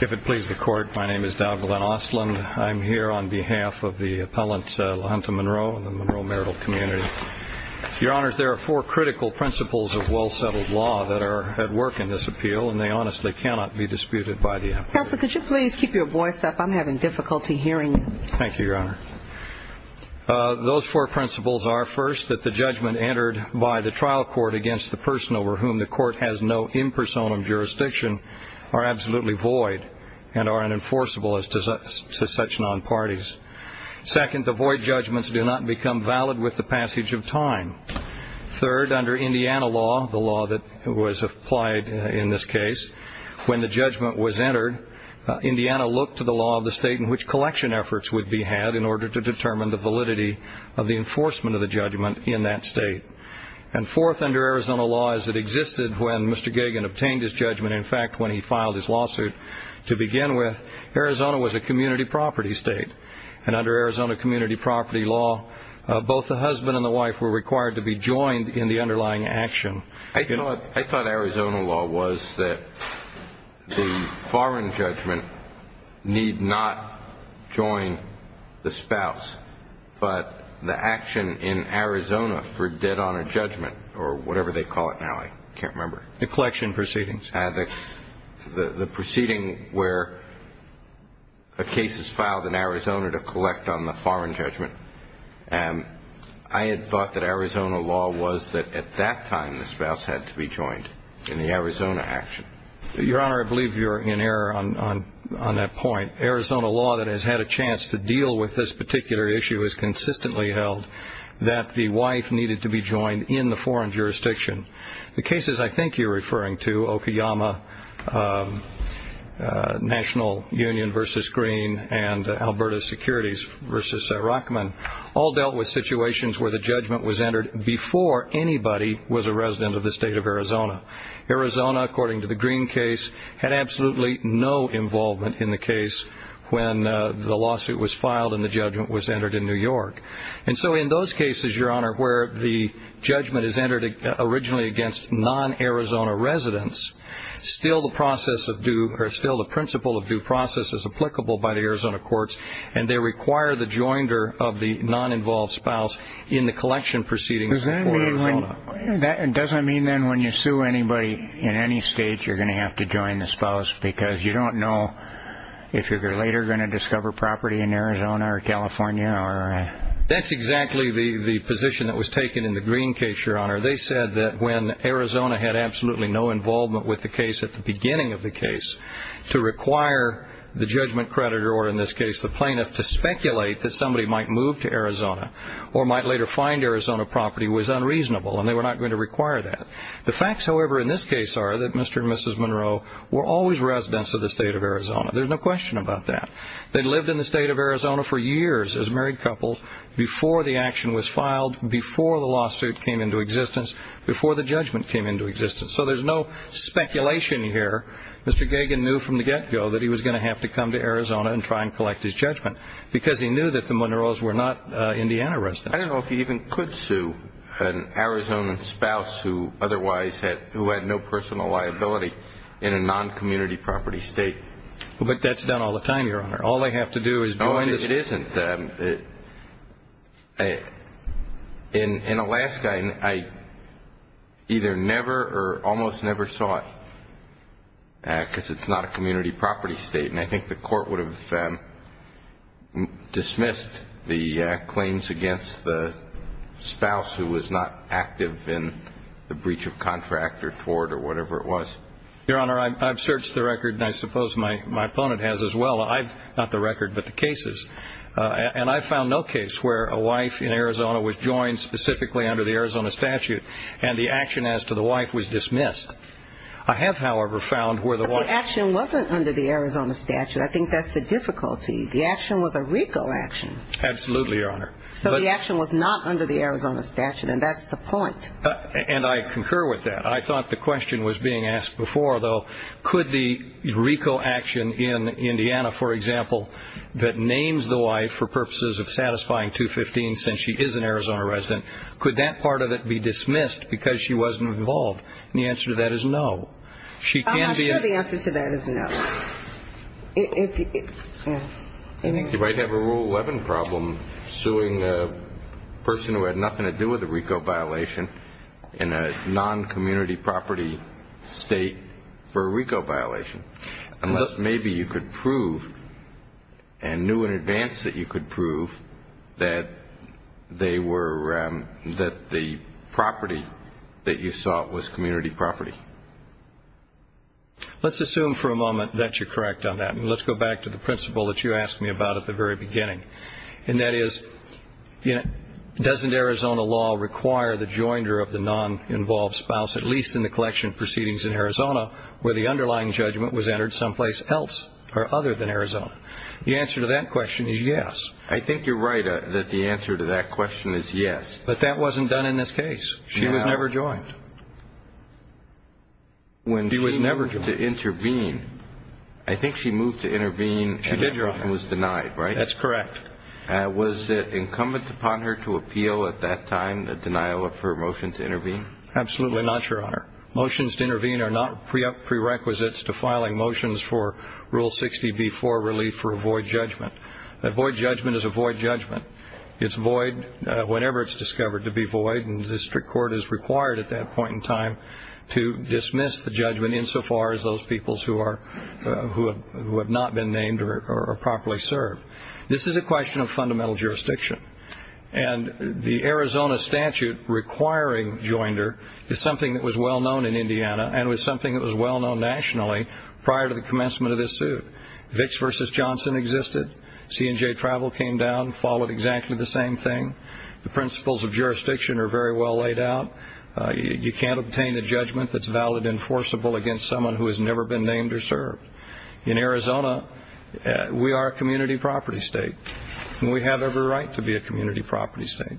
If it pleases the Court, my name is Dowd-Glenn Ostland. I'm here on behalf of the appellant LaHunta Monroe and the Monroe marital community. Your Honors, there are four critical principles of well-settled law that are at work in this appeal, and they honestly cannot be disputed by the appellant. Counsel, could you please keep your voice up? I'm having difficulty hearing you. Thank you, Your Honor. Those four principles are, first, that the judgment entered by the trial court against the person over whom the court has no impersonum jurisdiction are absolutely void and are unenforceable as to such non-parties. Second, the void judgments do not become valid with the passage of time. Third, under Indiana law, the law that was applied in this case, when the judgment was entered, Indiana looked to the law of the state in which collection efforts would be had in order to determine the validity of the enforcement of the judgment in that state. And fourth, under Arizona law, as it existed when Mr. Gagin obtained his judgment, in fact, when he filed his lawsuit, to begin with, Arizona was a community property state. And under Arizona community property law, both the husband and the wife were required to be joined in the underlying action. I thought Arizona law was that the foreign judgment need not join the spouse, but the action in Arizona for dead on a judgment or whatever they call it now, I can't remember. The collection proceedings. The proceeding where a case is filed in Arizona to collect on the foreign judgment. I had thought that Arizona law was that at that time the spouse had to be joined in the Arizona action. Your Honor, I believe you're in error on that point. Arizona law that has had a chance to deal with this particular issue has consistently held that the wife needed to be joined in the foreign jurisdiction. The cases I think you're referring to, Okayama National Union versus Green and Alberta Securities versus Rockman, all dealt with situations where the judgment was entered before anybody was a resident of the state of Arizona. Arizona, according to the Green case, had absolutely no involvement in the case when the lawsuit was filed and the judgment was entered in New York. And so in those cases, Your Honor, where the judgment is entered originally against non-Arizona residents, still the process of due or still the principle of due process is applicable by the Arizona courts, and they require the joinder of the non-involved spouse in the collection proceedings. Does that mean that it doesn't mean then when you sue anybody in any state, you're going to have to join the spouse because you don't know if you're later going to discover property in Arizona or California. That's exactly the position that was taken in the Green case, Your Honor. They said that when Arizona had absolutely no involvement with the case at the beginning of the case, to require the judgment creditor or in this case the plaintiff to speculate that somebody might move to Arizona or might later find Arizona property was unreasonable and they were not going to require that. The facts, however, in this case are that Mr. and Mrs. Monroe were always residents of the state of Arizona. There's no question about that. They lived in the state of Arizona for years as married couples before the action was filed, before the lawsuit came into existence, before the judgment came into existence. So there's no speculation here. Mr. Gagin knew from the get-go that he was going to have to come to Arizona and try and collect his judgment because he knew that the Monroes were not Indiana residents. I don't know if you even could sue an Arizona spouse who otherwise had no personal liability in a non-community property state. But that's done all the time, Your Honor. All they have to do is go into the state. No, it isn't. In Alaska, I either never or almost never saw it because it's not a community property state. And I think the court would have dismissed the claims against the spouse who was not active in the breach of contract or tort or whatever it was. Your Honor, I've searched the record, and I suppose my opponent has as well. Not the record, but the cases. And I found no case where a wife in Arizona was joined specifically under the Arizona statute and the action as to the wife was dismissed. I have, however, found where the wife was. But the action wasn't under the Arizona statute. I think that's the difficulty. The action was a RICO action. Absolutely, Your Honor. So the action was not under the Arizona statute, and that's the point. And I concur with that. I thought the question was being asked before, though. Could the RICO action in Indiana, for example, that names the wife for purposes of satisfying 215 since she is an Arizona resident, could that part of it be dismissed because she wasn't involved? And the answer to that is no. I'm sure the answer to that is no. You might have a Rule 11 problem suing a person who had nothing to do with a RICO violation in a non-community property state for a RICO violation unless maybe you could prove and knew in advance that you could prove that the property that you sought was community property. Let's assume for a moment that you're correct on that, and let's go back to the principle that you asked me about at the very beginning, and that is doesn't Arizona law require the joiner of the non-involved spouse, at least in the collection proceedings in Arizona, where the underlying judgment was entered someplace else or other than Arizona? The answer to that question is yes. I think you're right that the answer to that question is yes. But that wasn't done in this case. She was never joined. She was never joined. When she moved to intervene, I think she moved to intervene and was denied, right? That's correct. Was it incumbent upon her to appeal at that time the denial of her motion to intervene? Absolutely not, Your Honor. Motions to intervene are not prerequisites to filing motions for Rule 60b-4 relief for a void judgment. A void judgment is a void judgment. It's void whenever it's discovered to be void, and the district court is required at that point in time to dismiss the judgment insofar as those peoples who have not been named or are properly served. This is a question of fundamental jurisdiction, and the Arizona statute requiring joiner is something that was well-known in Indiana and was something that was well-known nationally prior to the commencement of this suit. Vicks v. Johnson existed. C&J Travel came down, followed exactly the same thing. The principles of jurisdiction are very well laid out. You can't obtain a judgment that's valid and forcible against someone who has never been named or served. In Arizona, we are a community property state, and we have every right to be a community property state,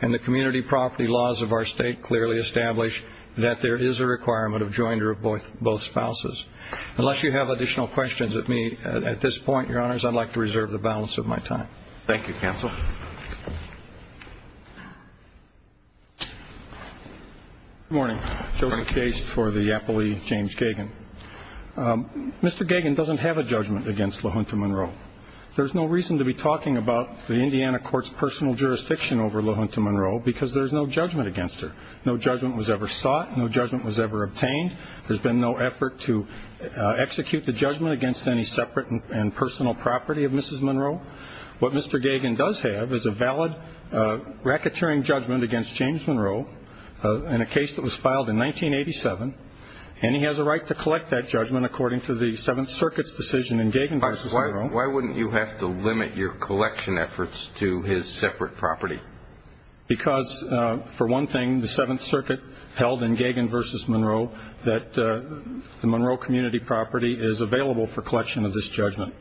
and the community property laws of our state clearly establish that there is a requirement of joiner of both spouses. Unless you have additional questions of me at this point, Your Honors, I'd like to reserve the balance of my time. Thank you, counsel. Good morning. Joseph Gaste for the appellee, James Gagin. Mr. Gagin doesn't have a judgment against LaHunta Monroe. There's no reason to be talking about the Indiana court's personal jurisdiction over LaHunta Monroe because there's no judgment against her. No judgment was ever sought. No judgment was ever obtained. There's been no effort to execute the judgment against any separate and personal property of Mrs. Monroe. What Mr. Gagin does have is a valid racketeering judgment against James Monroe in a case that was filed in 1987, and he has a right to collect that judgment according to the Seventh Circuit's decision in Gagin v. Monroe. Why wouldn't you have to limit your collection efforts to his separate property? Because, for one thing, the Seventh Circuit held in Gagin v. Monroe that the Monroe community property is available for collection of this judgment.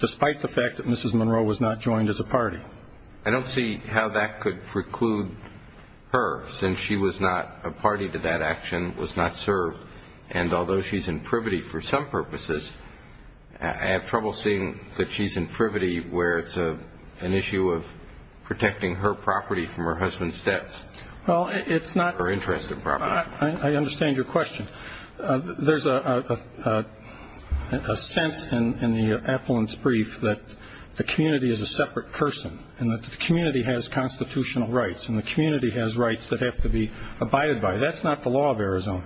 Despite the fact that Mrs. Monroe was not joined as a party. I don't see how that could preclude her since she was not a party to that action, was not served, and although she's in privity for some purposes, I have trouble seeing that she's in privity where it's an issue of protecting her property from her husband's debts. Well, it's not. Her interest in property. I understand your question. There's a sense in the appellant's brief that the community is a separate person and that the community has constitutional rights and the community has rights that have to be abided by. That's not the law of Arizona.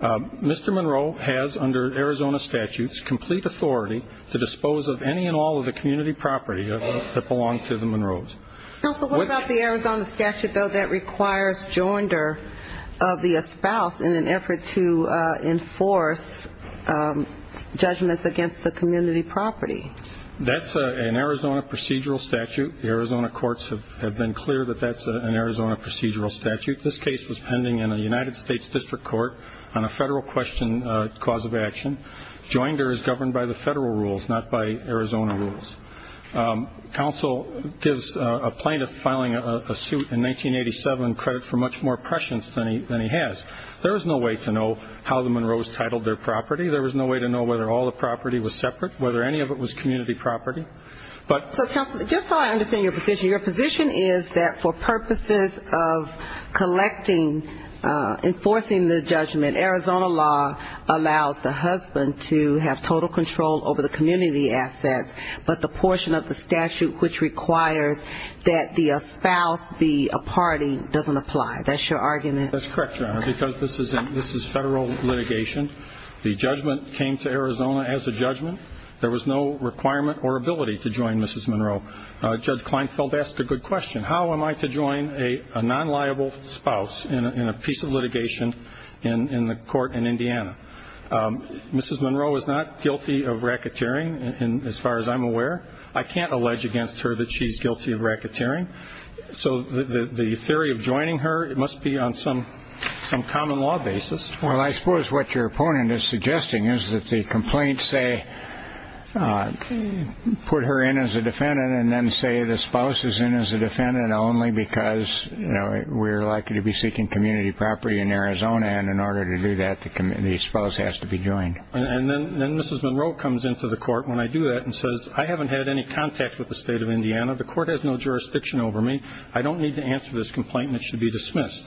Mr. Monroe has, under Arizona statutes, complete authority to dispose of any and all of the community property that belongs to the Monroes. Counsel, what about the Arizona statute, though, that requires joinder of the spouse in an effort to enforce judgments against the community property? That's an Arizona procedural statute. The Arizona courts have been clear that that's an Arizona procedural statute. This case was pending in a United States district court on a federal cause of action. Joinder is governed by the federal rules, not by Arizona rules. Counsel gives a plaintiff filing a suit in 1987 credit for much more prescience than he has. There is no way to know how the Monroes titled their property. There was no way to know whether all the property was separate, whether any of it was community property. So, Counsel, just so I understand your position, your position is that for purposes of collecting, enforcing the judgment, Arizona law allows the husband to have total control over the community assets, but the portion of the statute which requires that the spouse be a party doesn't apply. That's your argument? That's correct, Your Honor, because this is federal litigation. The judgment came to Arizona as a judgment. There was no requirement or ability to join Mrs. Monroe. Judge Kleinfeld asked a good question. How am I to join a non-liable spouse in a piece of litigation in the court in Indiana? Mrs. Monroe is not guilty of racketeering, as far as I'm aware. I can't allege against her that she's guilty of racketeering. So the theory of joining her must be on some common law basis. Well, I suppose what your opponent is suggesting is that the complaints say put her in as a defendant and then say the spouse is in as a defendant only because, you know, we're likely to be seeking community property in Arizona, and in order to do that the spouse has to be joined. And then Mrs. Monroe comes into the court when I do that and says, I haven't had any contact with the state of Indiana. The court has no jurisdiction over me. I don't need to answer this complaint and it should be dismissed.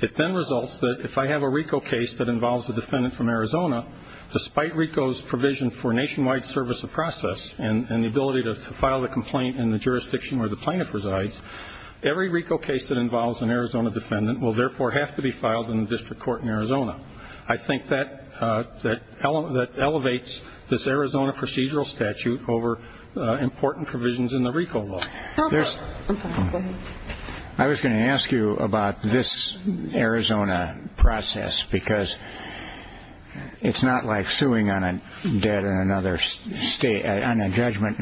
It then results that if I have a RICO case that involves a defendant from Arizona, despite RICO's provision for nationwide service of process and the ability to file the complaint in the jurisdiction where the plaintiff resides, every RICO case that involves an Arizona defendant will, therefore, have to be filed in the district court in Arizona. I think that elevates this Arizona procedural statute over important provisions in the RICO law. I was going to ask you about this Arizona process because it's not like suing on a judgment in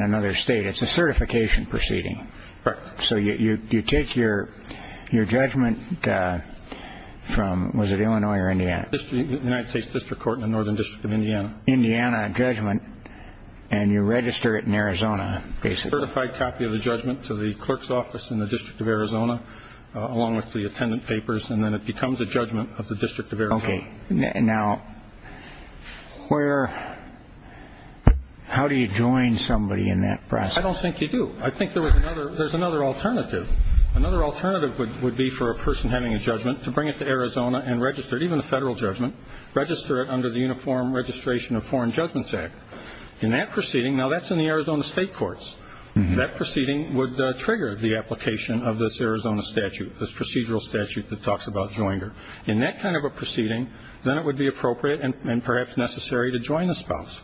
another state. It's a certification proceeding. Correct. So you take your judgment from, was it Illinois or Indiana? United States District Court in the Northern District of Indiana. Indiana judgment, and you register it in Arizona, basically. Certified copy of the judgment to the clerk's office in the District of Arizona, along with the attendant papers, and then it becomes a judgment of the District of Arizona. Okay. Now, how do you join somebody in that process? I don't think you do. I think there's another alternative. Another alternative would be for a person having a judgment to bring it to Arizona and register it, even a federal judgment, register it under the Uniform Registration of Foreign Judgments Act. Now, that's in the Arizona state courts. That proceeding would trigger the application of this Arizona statute, this procedural statute that talks about joinder. In that kind of a proceeding, then it would be appropriate and perhaps necessary to join the spouse.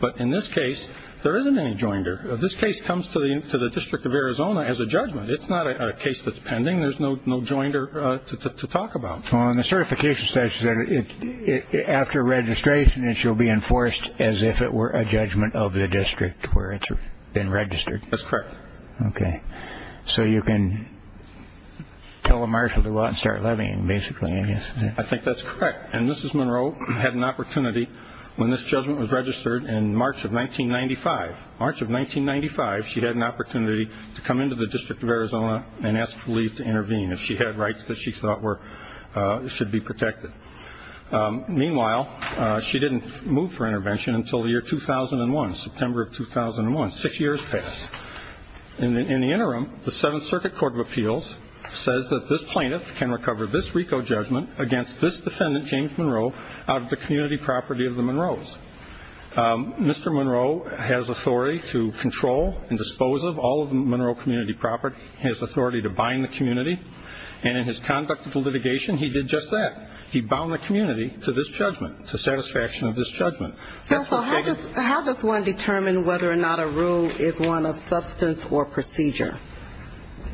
But in this case, there isn't any joinder. This case comes to the District of Arizona as a judgment. It's not a case that's pending. There's no joinder to talk about. Well, in the certification statute, after registration, it shall be enforced as if it were a judgment of the district where it's been registered. That's correct. Okay. So you can tell a marshal to go out and start living, basically, I guess. I think that's correct. And Mrs. Monroe had an opportunity when this judgment was registered in March of 1995, she had an opportunity to come into the District of Arizona and ask for leave to intervene if she had rights that she thought should be protected. Meanwhile, she didn't move for intervention until the year 2001, September of 2001. Six years passed. In the interim, the Seventh Circuit Court of Appeals says that this plaintiff can recover this RICO judgment against this defendant, James Monroe, out of the community property of the Monroes. Mr. Monroe has authority to control and dispose of all of the Monroe community property. He has authority to bind the community. And in his conduct of the litigation, he did just that. He bound the community to this judgment, to satisfaction of this judgment. Counsel, how does one determine whether or not a rule is one of substance or procedure?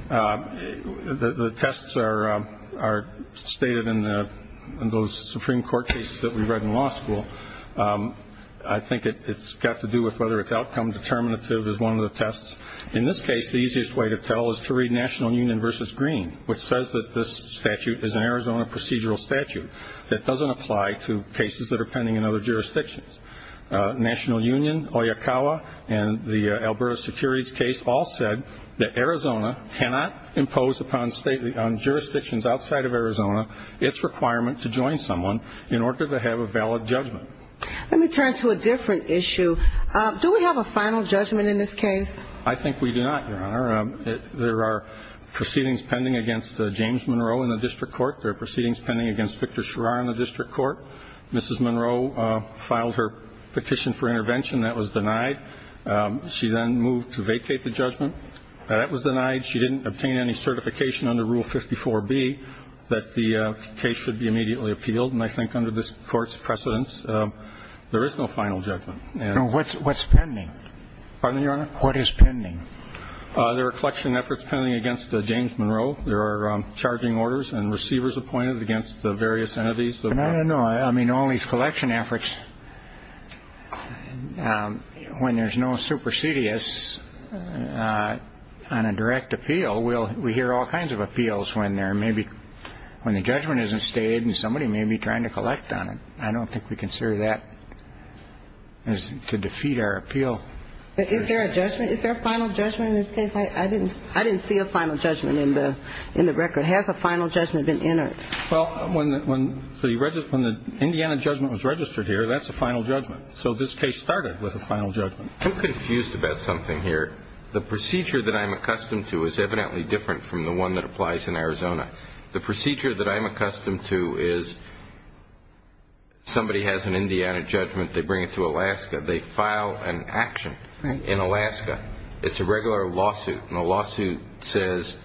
The tests are stated in those Supreme Court cases that we read in law school. I think it's got to do with whether it's outcome determinative is one of the tests. In this case, the easiest way to tell is to read National Union v. Green, which says that this statute is an Arizona procedural statute that doesn't apply to cases that are pending in other jurisdictions. National Union, Oyakawa, and the Alberta Securities case all said that Arizona cannot impose upon jurisdictions outside of Arizona its requirement to join someone in order to have a valid judgment. Let me turn to a different issue. Do we have a final judgment in this case? I think we do not, Your Honor. There are proceedings pending against James Monroe in the district court. There are proceedings pending against Victor Schirra in the district court. Mrs. Monroe filed her petition for intervention. That was denied. She then moved to vacate the judgment. That was denied. She didn't obtain any certification under Rule 54B that the case should be immediately appealed. And I think under this Court's precedence, there is no final judgment. No. What's pending? Pardon me, Your Honor? What is pending? There are collection efforts pending against James Monroe. There are charging orders and receivers appointed against various entities. No, no, no. I mean, all these collection efforts, when there's no supersedious on a direct appeal, we hear all kinds of appeals when the judgment isn't stated and somebody may be trying to collect on it. I don't think we consider that to defeat our appeal. Is there a judgment? Is there a final judgment in this case? I didn't see a final judgment in the record. Has a final judgment been entered? Well, when the Indiana judgment was registered here, that's a final judgment. So this case started with a final judgment. I'm confused about something here. The procedure that I'm accustomed to is evidently different from the one that applies in Arizona. The procedure that I'm accustomed to is somebody has an Indiana judgment. They bring it to Alaska. They file an action in Alaska. It's a regular lawsuit, and the lawsuit says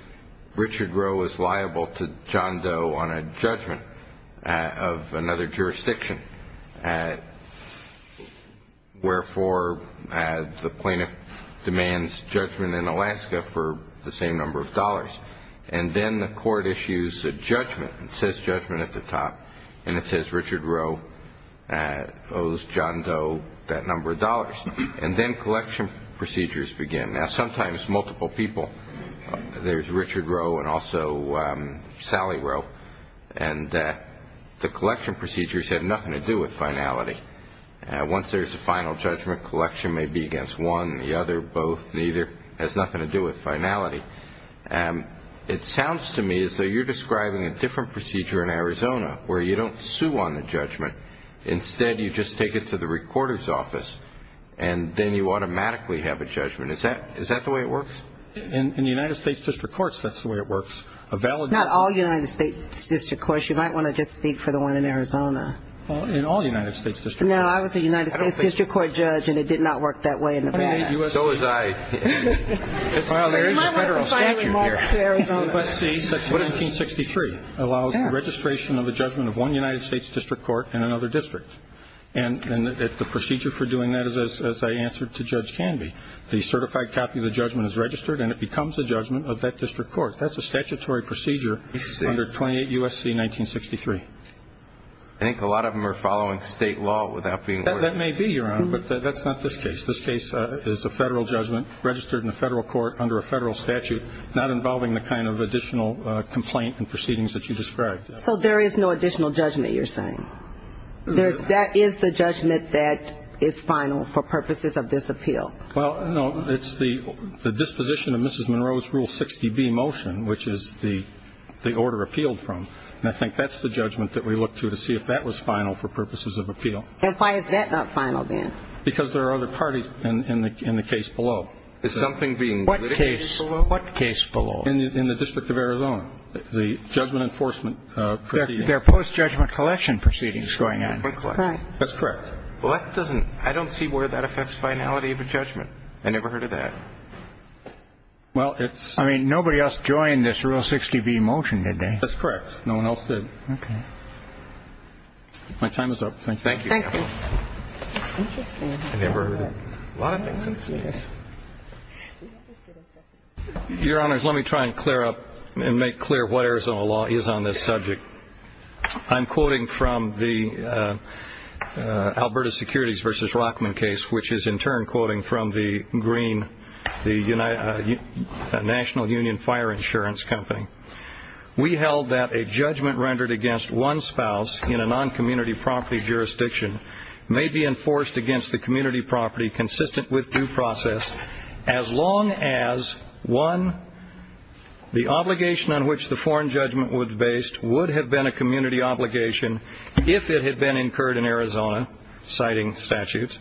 Richard Rowe is liable to John Doe on a judgment of another jurisdiction. Wherefore, the plaintiff demands judgment in Alaska for the same number of dollars. And then the court issues a judgment. It says judgment at the top, and it says Richard Rowe owes John Doe that number of dollars. And then collection procedures begin. Now, sometimes multiple people. There's Richard Rowe and also Sally Rowe, and the collection procedures have nothing to do with finality. Once there's a final judgment, collection may be against one, the other, both, neither. It has nothing to do with finality. It sounds to me as though you're describing a different procedure in Arizona where you don't sue on the judgment. Instead, you just take it to the recorder's office, and then you automatically have a judgment. Is that the way it works? In the United States District Courts, that's the way it works. Not all United States District Courts. You might want to just speak for the one in Arizona. In all United States District Courts. No, I was a United States District Court judge, and it did not work that way in Nevada. So was I. Well, there is a federal statute here. USC-1963 allows the registration of a judgment of one United States District Court in another district. And the procedure for doing that is, as I answered to Judge Canby, the certified copy of the judgment is registered and it becomes a judgment of that district court. That's a statutory procedure under 28 USC-1963. I think a lot of them are following state law without being ordered. That may be, Your Honor, but that's not this case. This case is a federal judgment registered in a federal court under a federal statute, not involving the kind of additional complaint and proceedings that you described. So there is no additional judgment, you're saying? That is the judgment that is final for purposes of this appeal? Well, no, it's the disposition of Mrs. Monroe's Rule 60B motion, which is the order appealed from. And I think that's the judgment that we look to to see if that was final for purposes of appeal. And why is that not final then? Because there are other parties in the case below. Is something being litigated below? What case below? In the District of Arizona, the judgment enforcement proceedings. They're post-judgment collection proceedings going on. That's correct. Well, that doesn't – I don't see where that affects finality of a judgment. I never heard of that. Well, it's – I mean, nobody else joined this Rule 60B motion, did they? No one else did. Okay. My time is up. Thank you. Thank you. Thank you. Interesting. I never heard of it. A lot of things in this case. Your Honors, let me try and clear up and make clear what Arizona law is on this subject. I'm quoting from the Alberta Securities v. Rockman case, which is in turn quoting from the Green, the National Union Fire Insurance Company. We held that a judgment rendered against one spouse in a non-community property jurisdiction may be enforced against the community property consistent with due process as long as, one, the obligation on which the foreign judgment was based would have been a community obligation if it had been incurred in Arizona, citing statutes,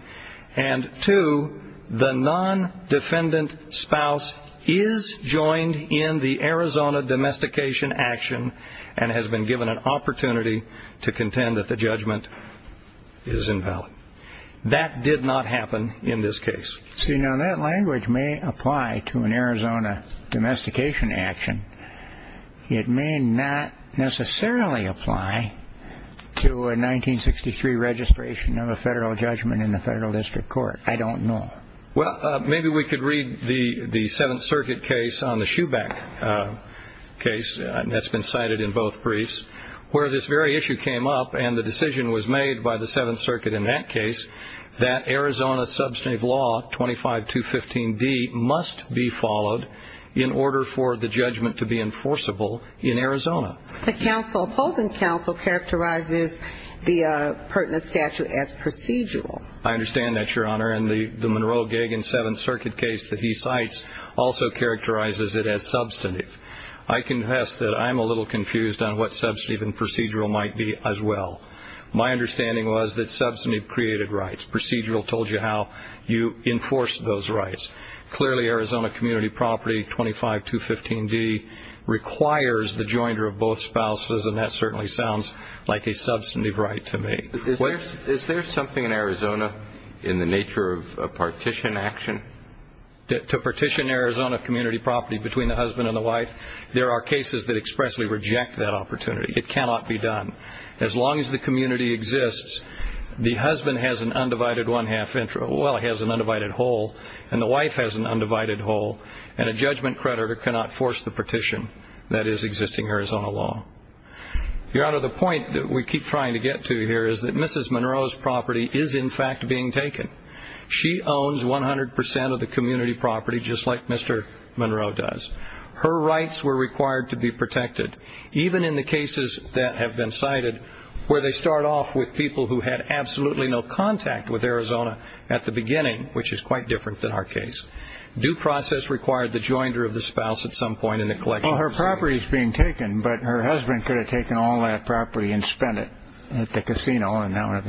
and, two, the non-defendant spouse is joined in the Arizona domestication action and has been given an opportunity to contend that the judgment is invalid. That did not happen in this case. See, now, that language may apply to an Arizona domestication action. It may not necessarily apply to a 1963 registration of a federal judgment in a federal district court. I don't know. Well, maybe we could read the Seventh Circuit case on the Shoeback case that's been cited in both briefs, where this very issue came up and the decision was made by the Seventh Circuit in that case that Arizona substantive law 25215D must be followed in order for the judgment to be enforceable in Arizona. The opposing counsel characterizes the pertinent statute as procedural. I understand that, Your Honor, and the Monroe-Gagin Seventh Circuit case that he cites also characterizes it as substantive. I confess that I'm a little confused on what substantive and procedural might be as well. My understanding was that substantive created rights. Procedural told you how you enforce those rights. Clearly, Arizona community property 25215D requires the joinder of both spouses, and that certainly sounds like a substantive right to me. Is there something in Arizona in the nature of a partition action? To partition Arizona community property between the husband and the wife? There are cases that expressly reject that opportunity. It cannot be done. As long as the community exists, the husband has an undivided one-half, well, he has an undivided whole, and the wife has an undivided whole, and a judgment creditor cannot force the partition that is existing Arizona law. Your Honor, the point that we keep trying to get to here is that Mrs. Monroe's property is in fact being taken. She owns 100 percent of the community property just like Mr. Monroe does. Her rights were required to be protected. Even in the cases that have been cited where they start off with people who had absolutely no contact with Arizona at the beginning, which is quite different than our case, due process required the joinder of the spouse at some point in the collection. Well, her property is being taken, but her husband could have taken all that property and spent it at the casino.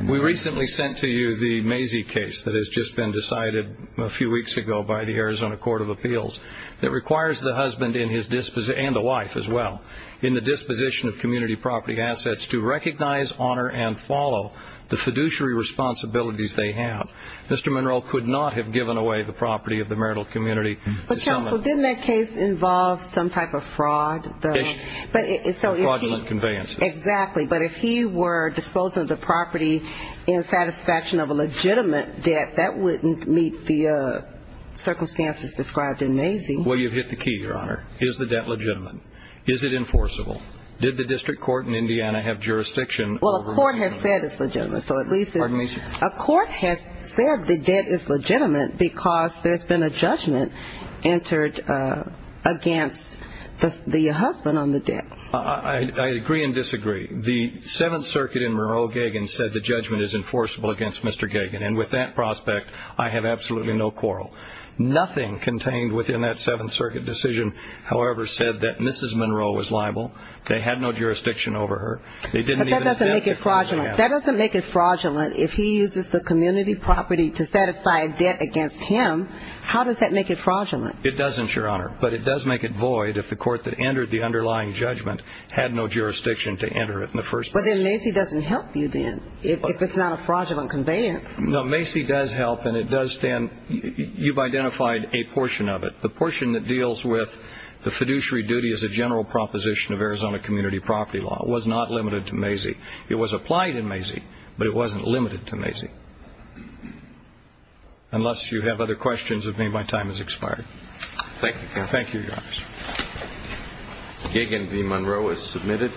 We recently sent to you the Mazie case that has just been decided a few weeks ago by the Arizona Court of Appeals that requires the husband and the wife as well in the disposition of community property assets to recognize, honor, and follow the fiduciary responsibilities they have. Mr. Monroe could not have given away the property of the marital community. But, counsel, didn't that case involve some type of fraud? Fraudulent conveyances. Exactly. But if he were disposing of the property in satisfaction of a legitimate debt, that wouldn't meet the circumstances described in Mazie. Well, you've hit the key, Your Honor. Is the debt legitimate? Is it enforceable? Did the district court in Indiana have jurisdiction over it? Well, a court has said it's legitimate. So at least a court has said the debt is legitimate because there's been a judgment entered against the husband on the debt. I agree and disagree. The Seventh Circuit in Monroe-Gagin said the judgment is enforceable against Mr. Gagin. And with that prospect, I have absolutely no quarrel. Nothing contained within that Seventh Circuit decision, however, said that Mrs. Monroe was liable. They had no jurisdiction over her. But that doesn't make it fraudulent. That doesn't make it fraudulent if he uses the community property to satisfy a debt against him. How does that make it fraudulent? It doesn't, Your Honor. But it does make it void if the court that entered the underlying judgment had no jurisdiction to enter it in the first place. But then Mazie doesn't help you then if it's not a fraudulent conveyance. No, Mazie does help, and it does stand. You've identified a portion of it. The portion that deals with the fiduciary duty as a general proposition of Arizona community property law was not limited to Mazie. It was applied in Mazie, but it wasn't limited to Mazie. Unless you have other questions with me, my time has expired. Thank you, Counsel. Thank you, Your Honor. Gagin v. Monroe is submitted.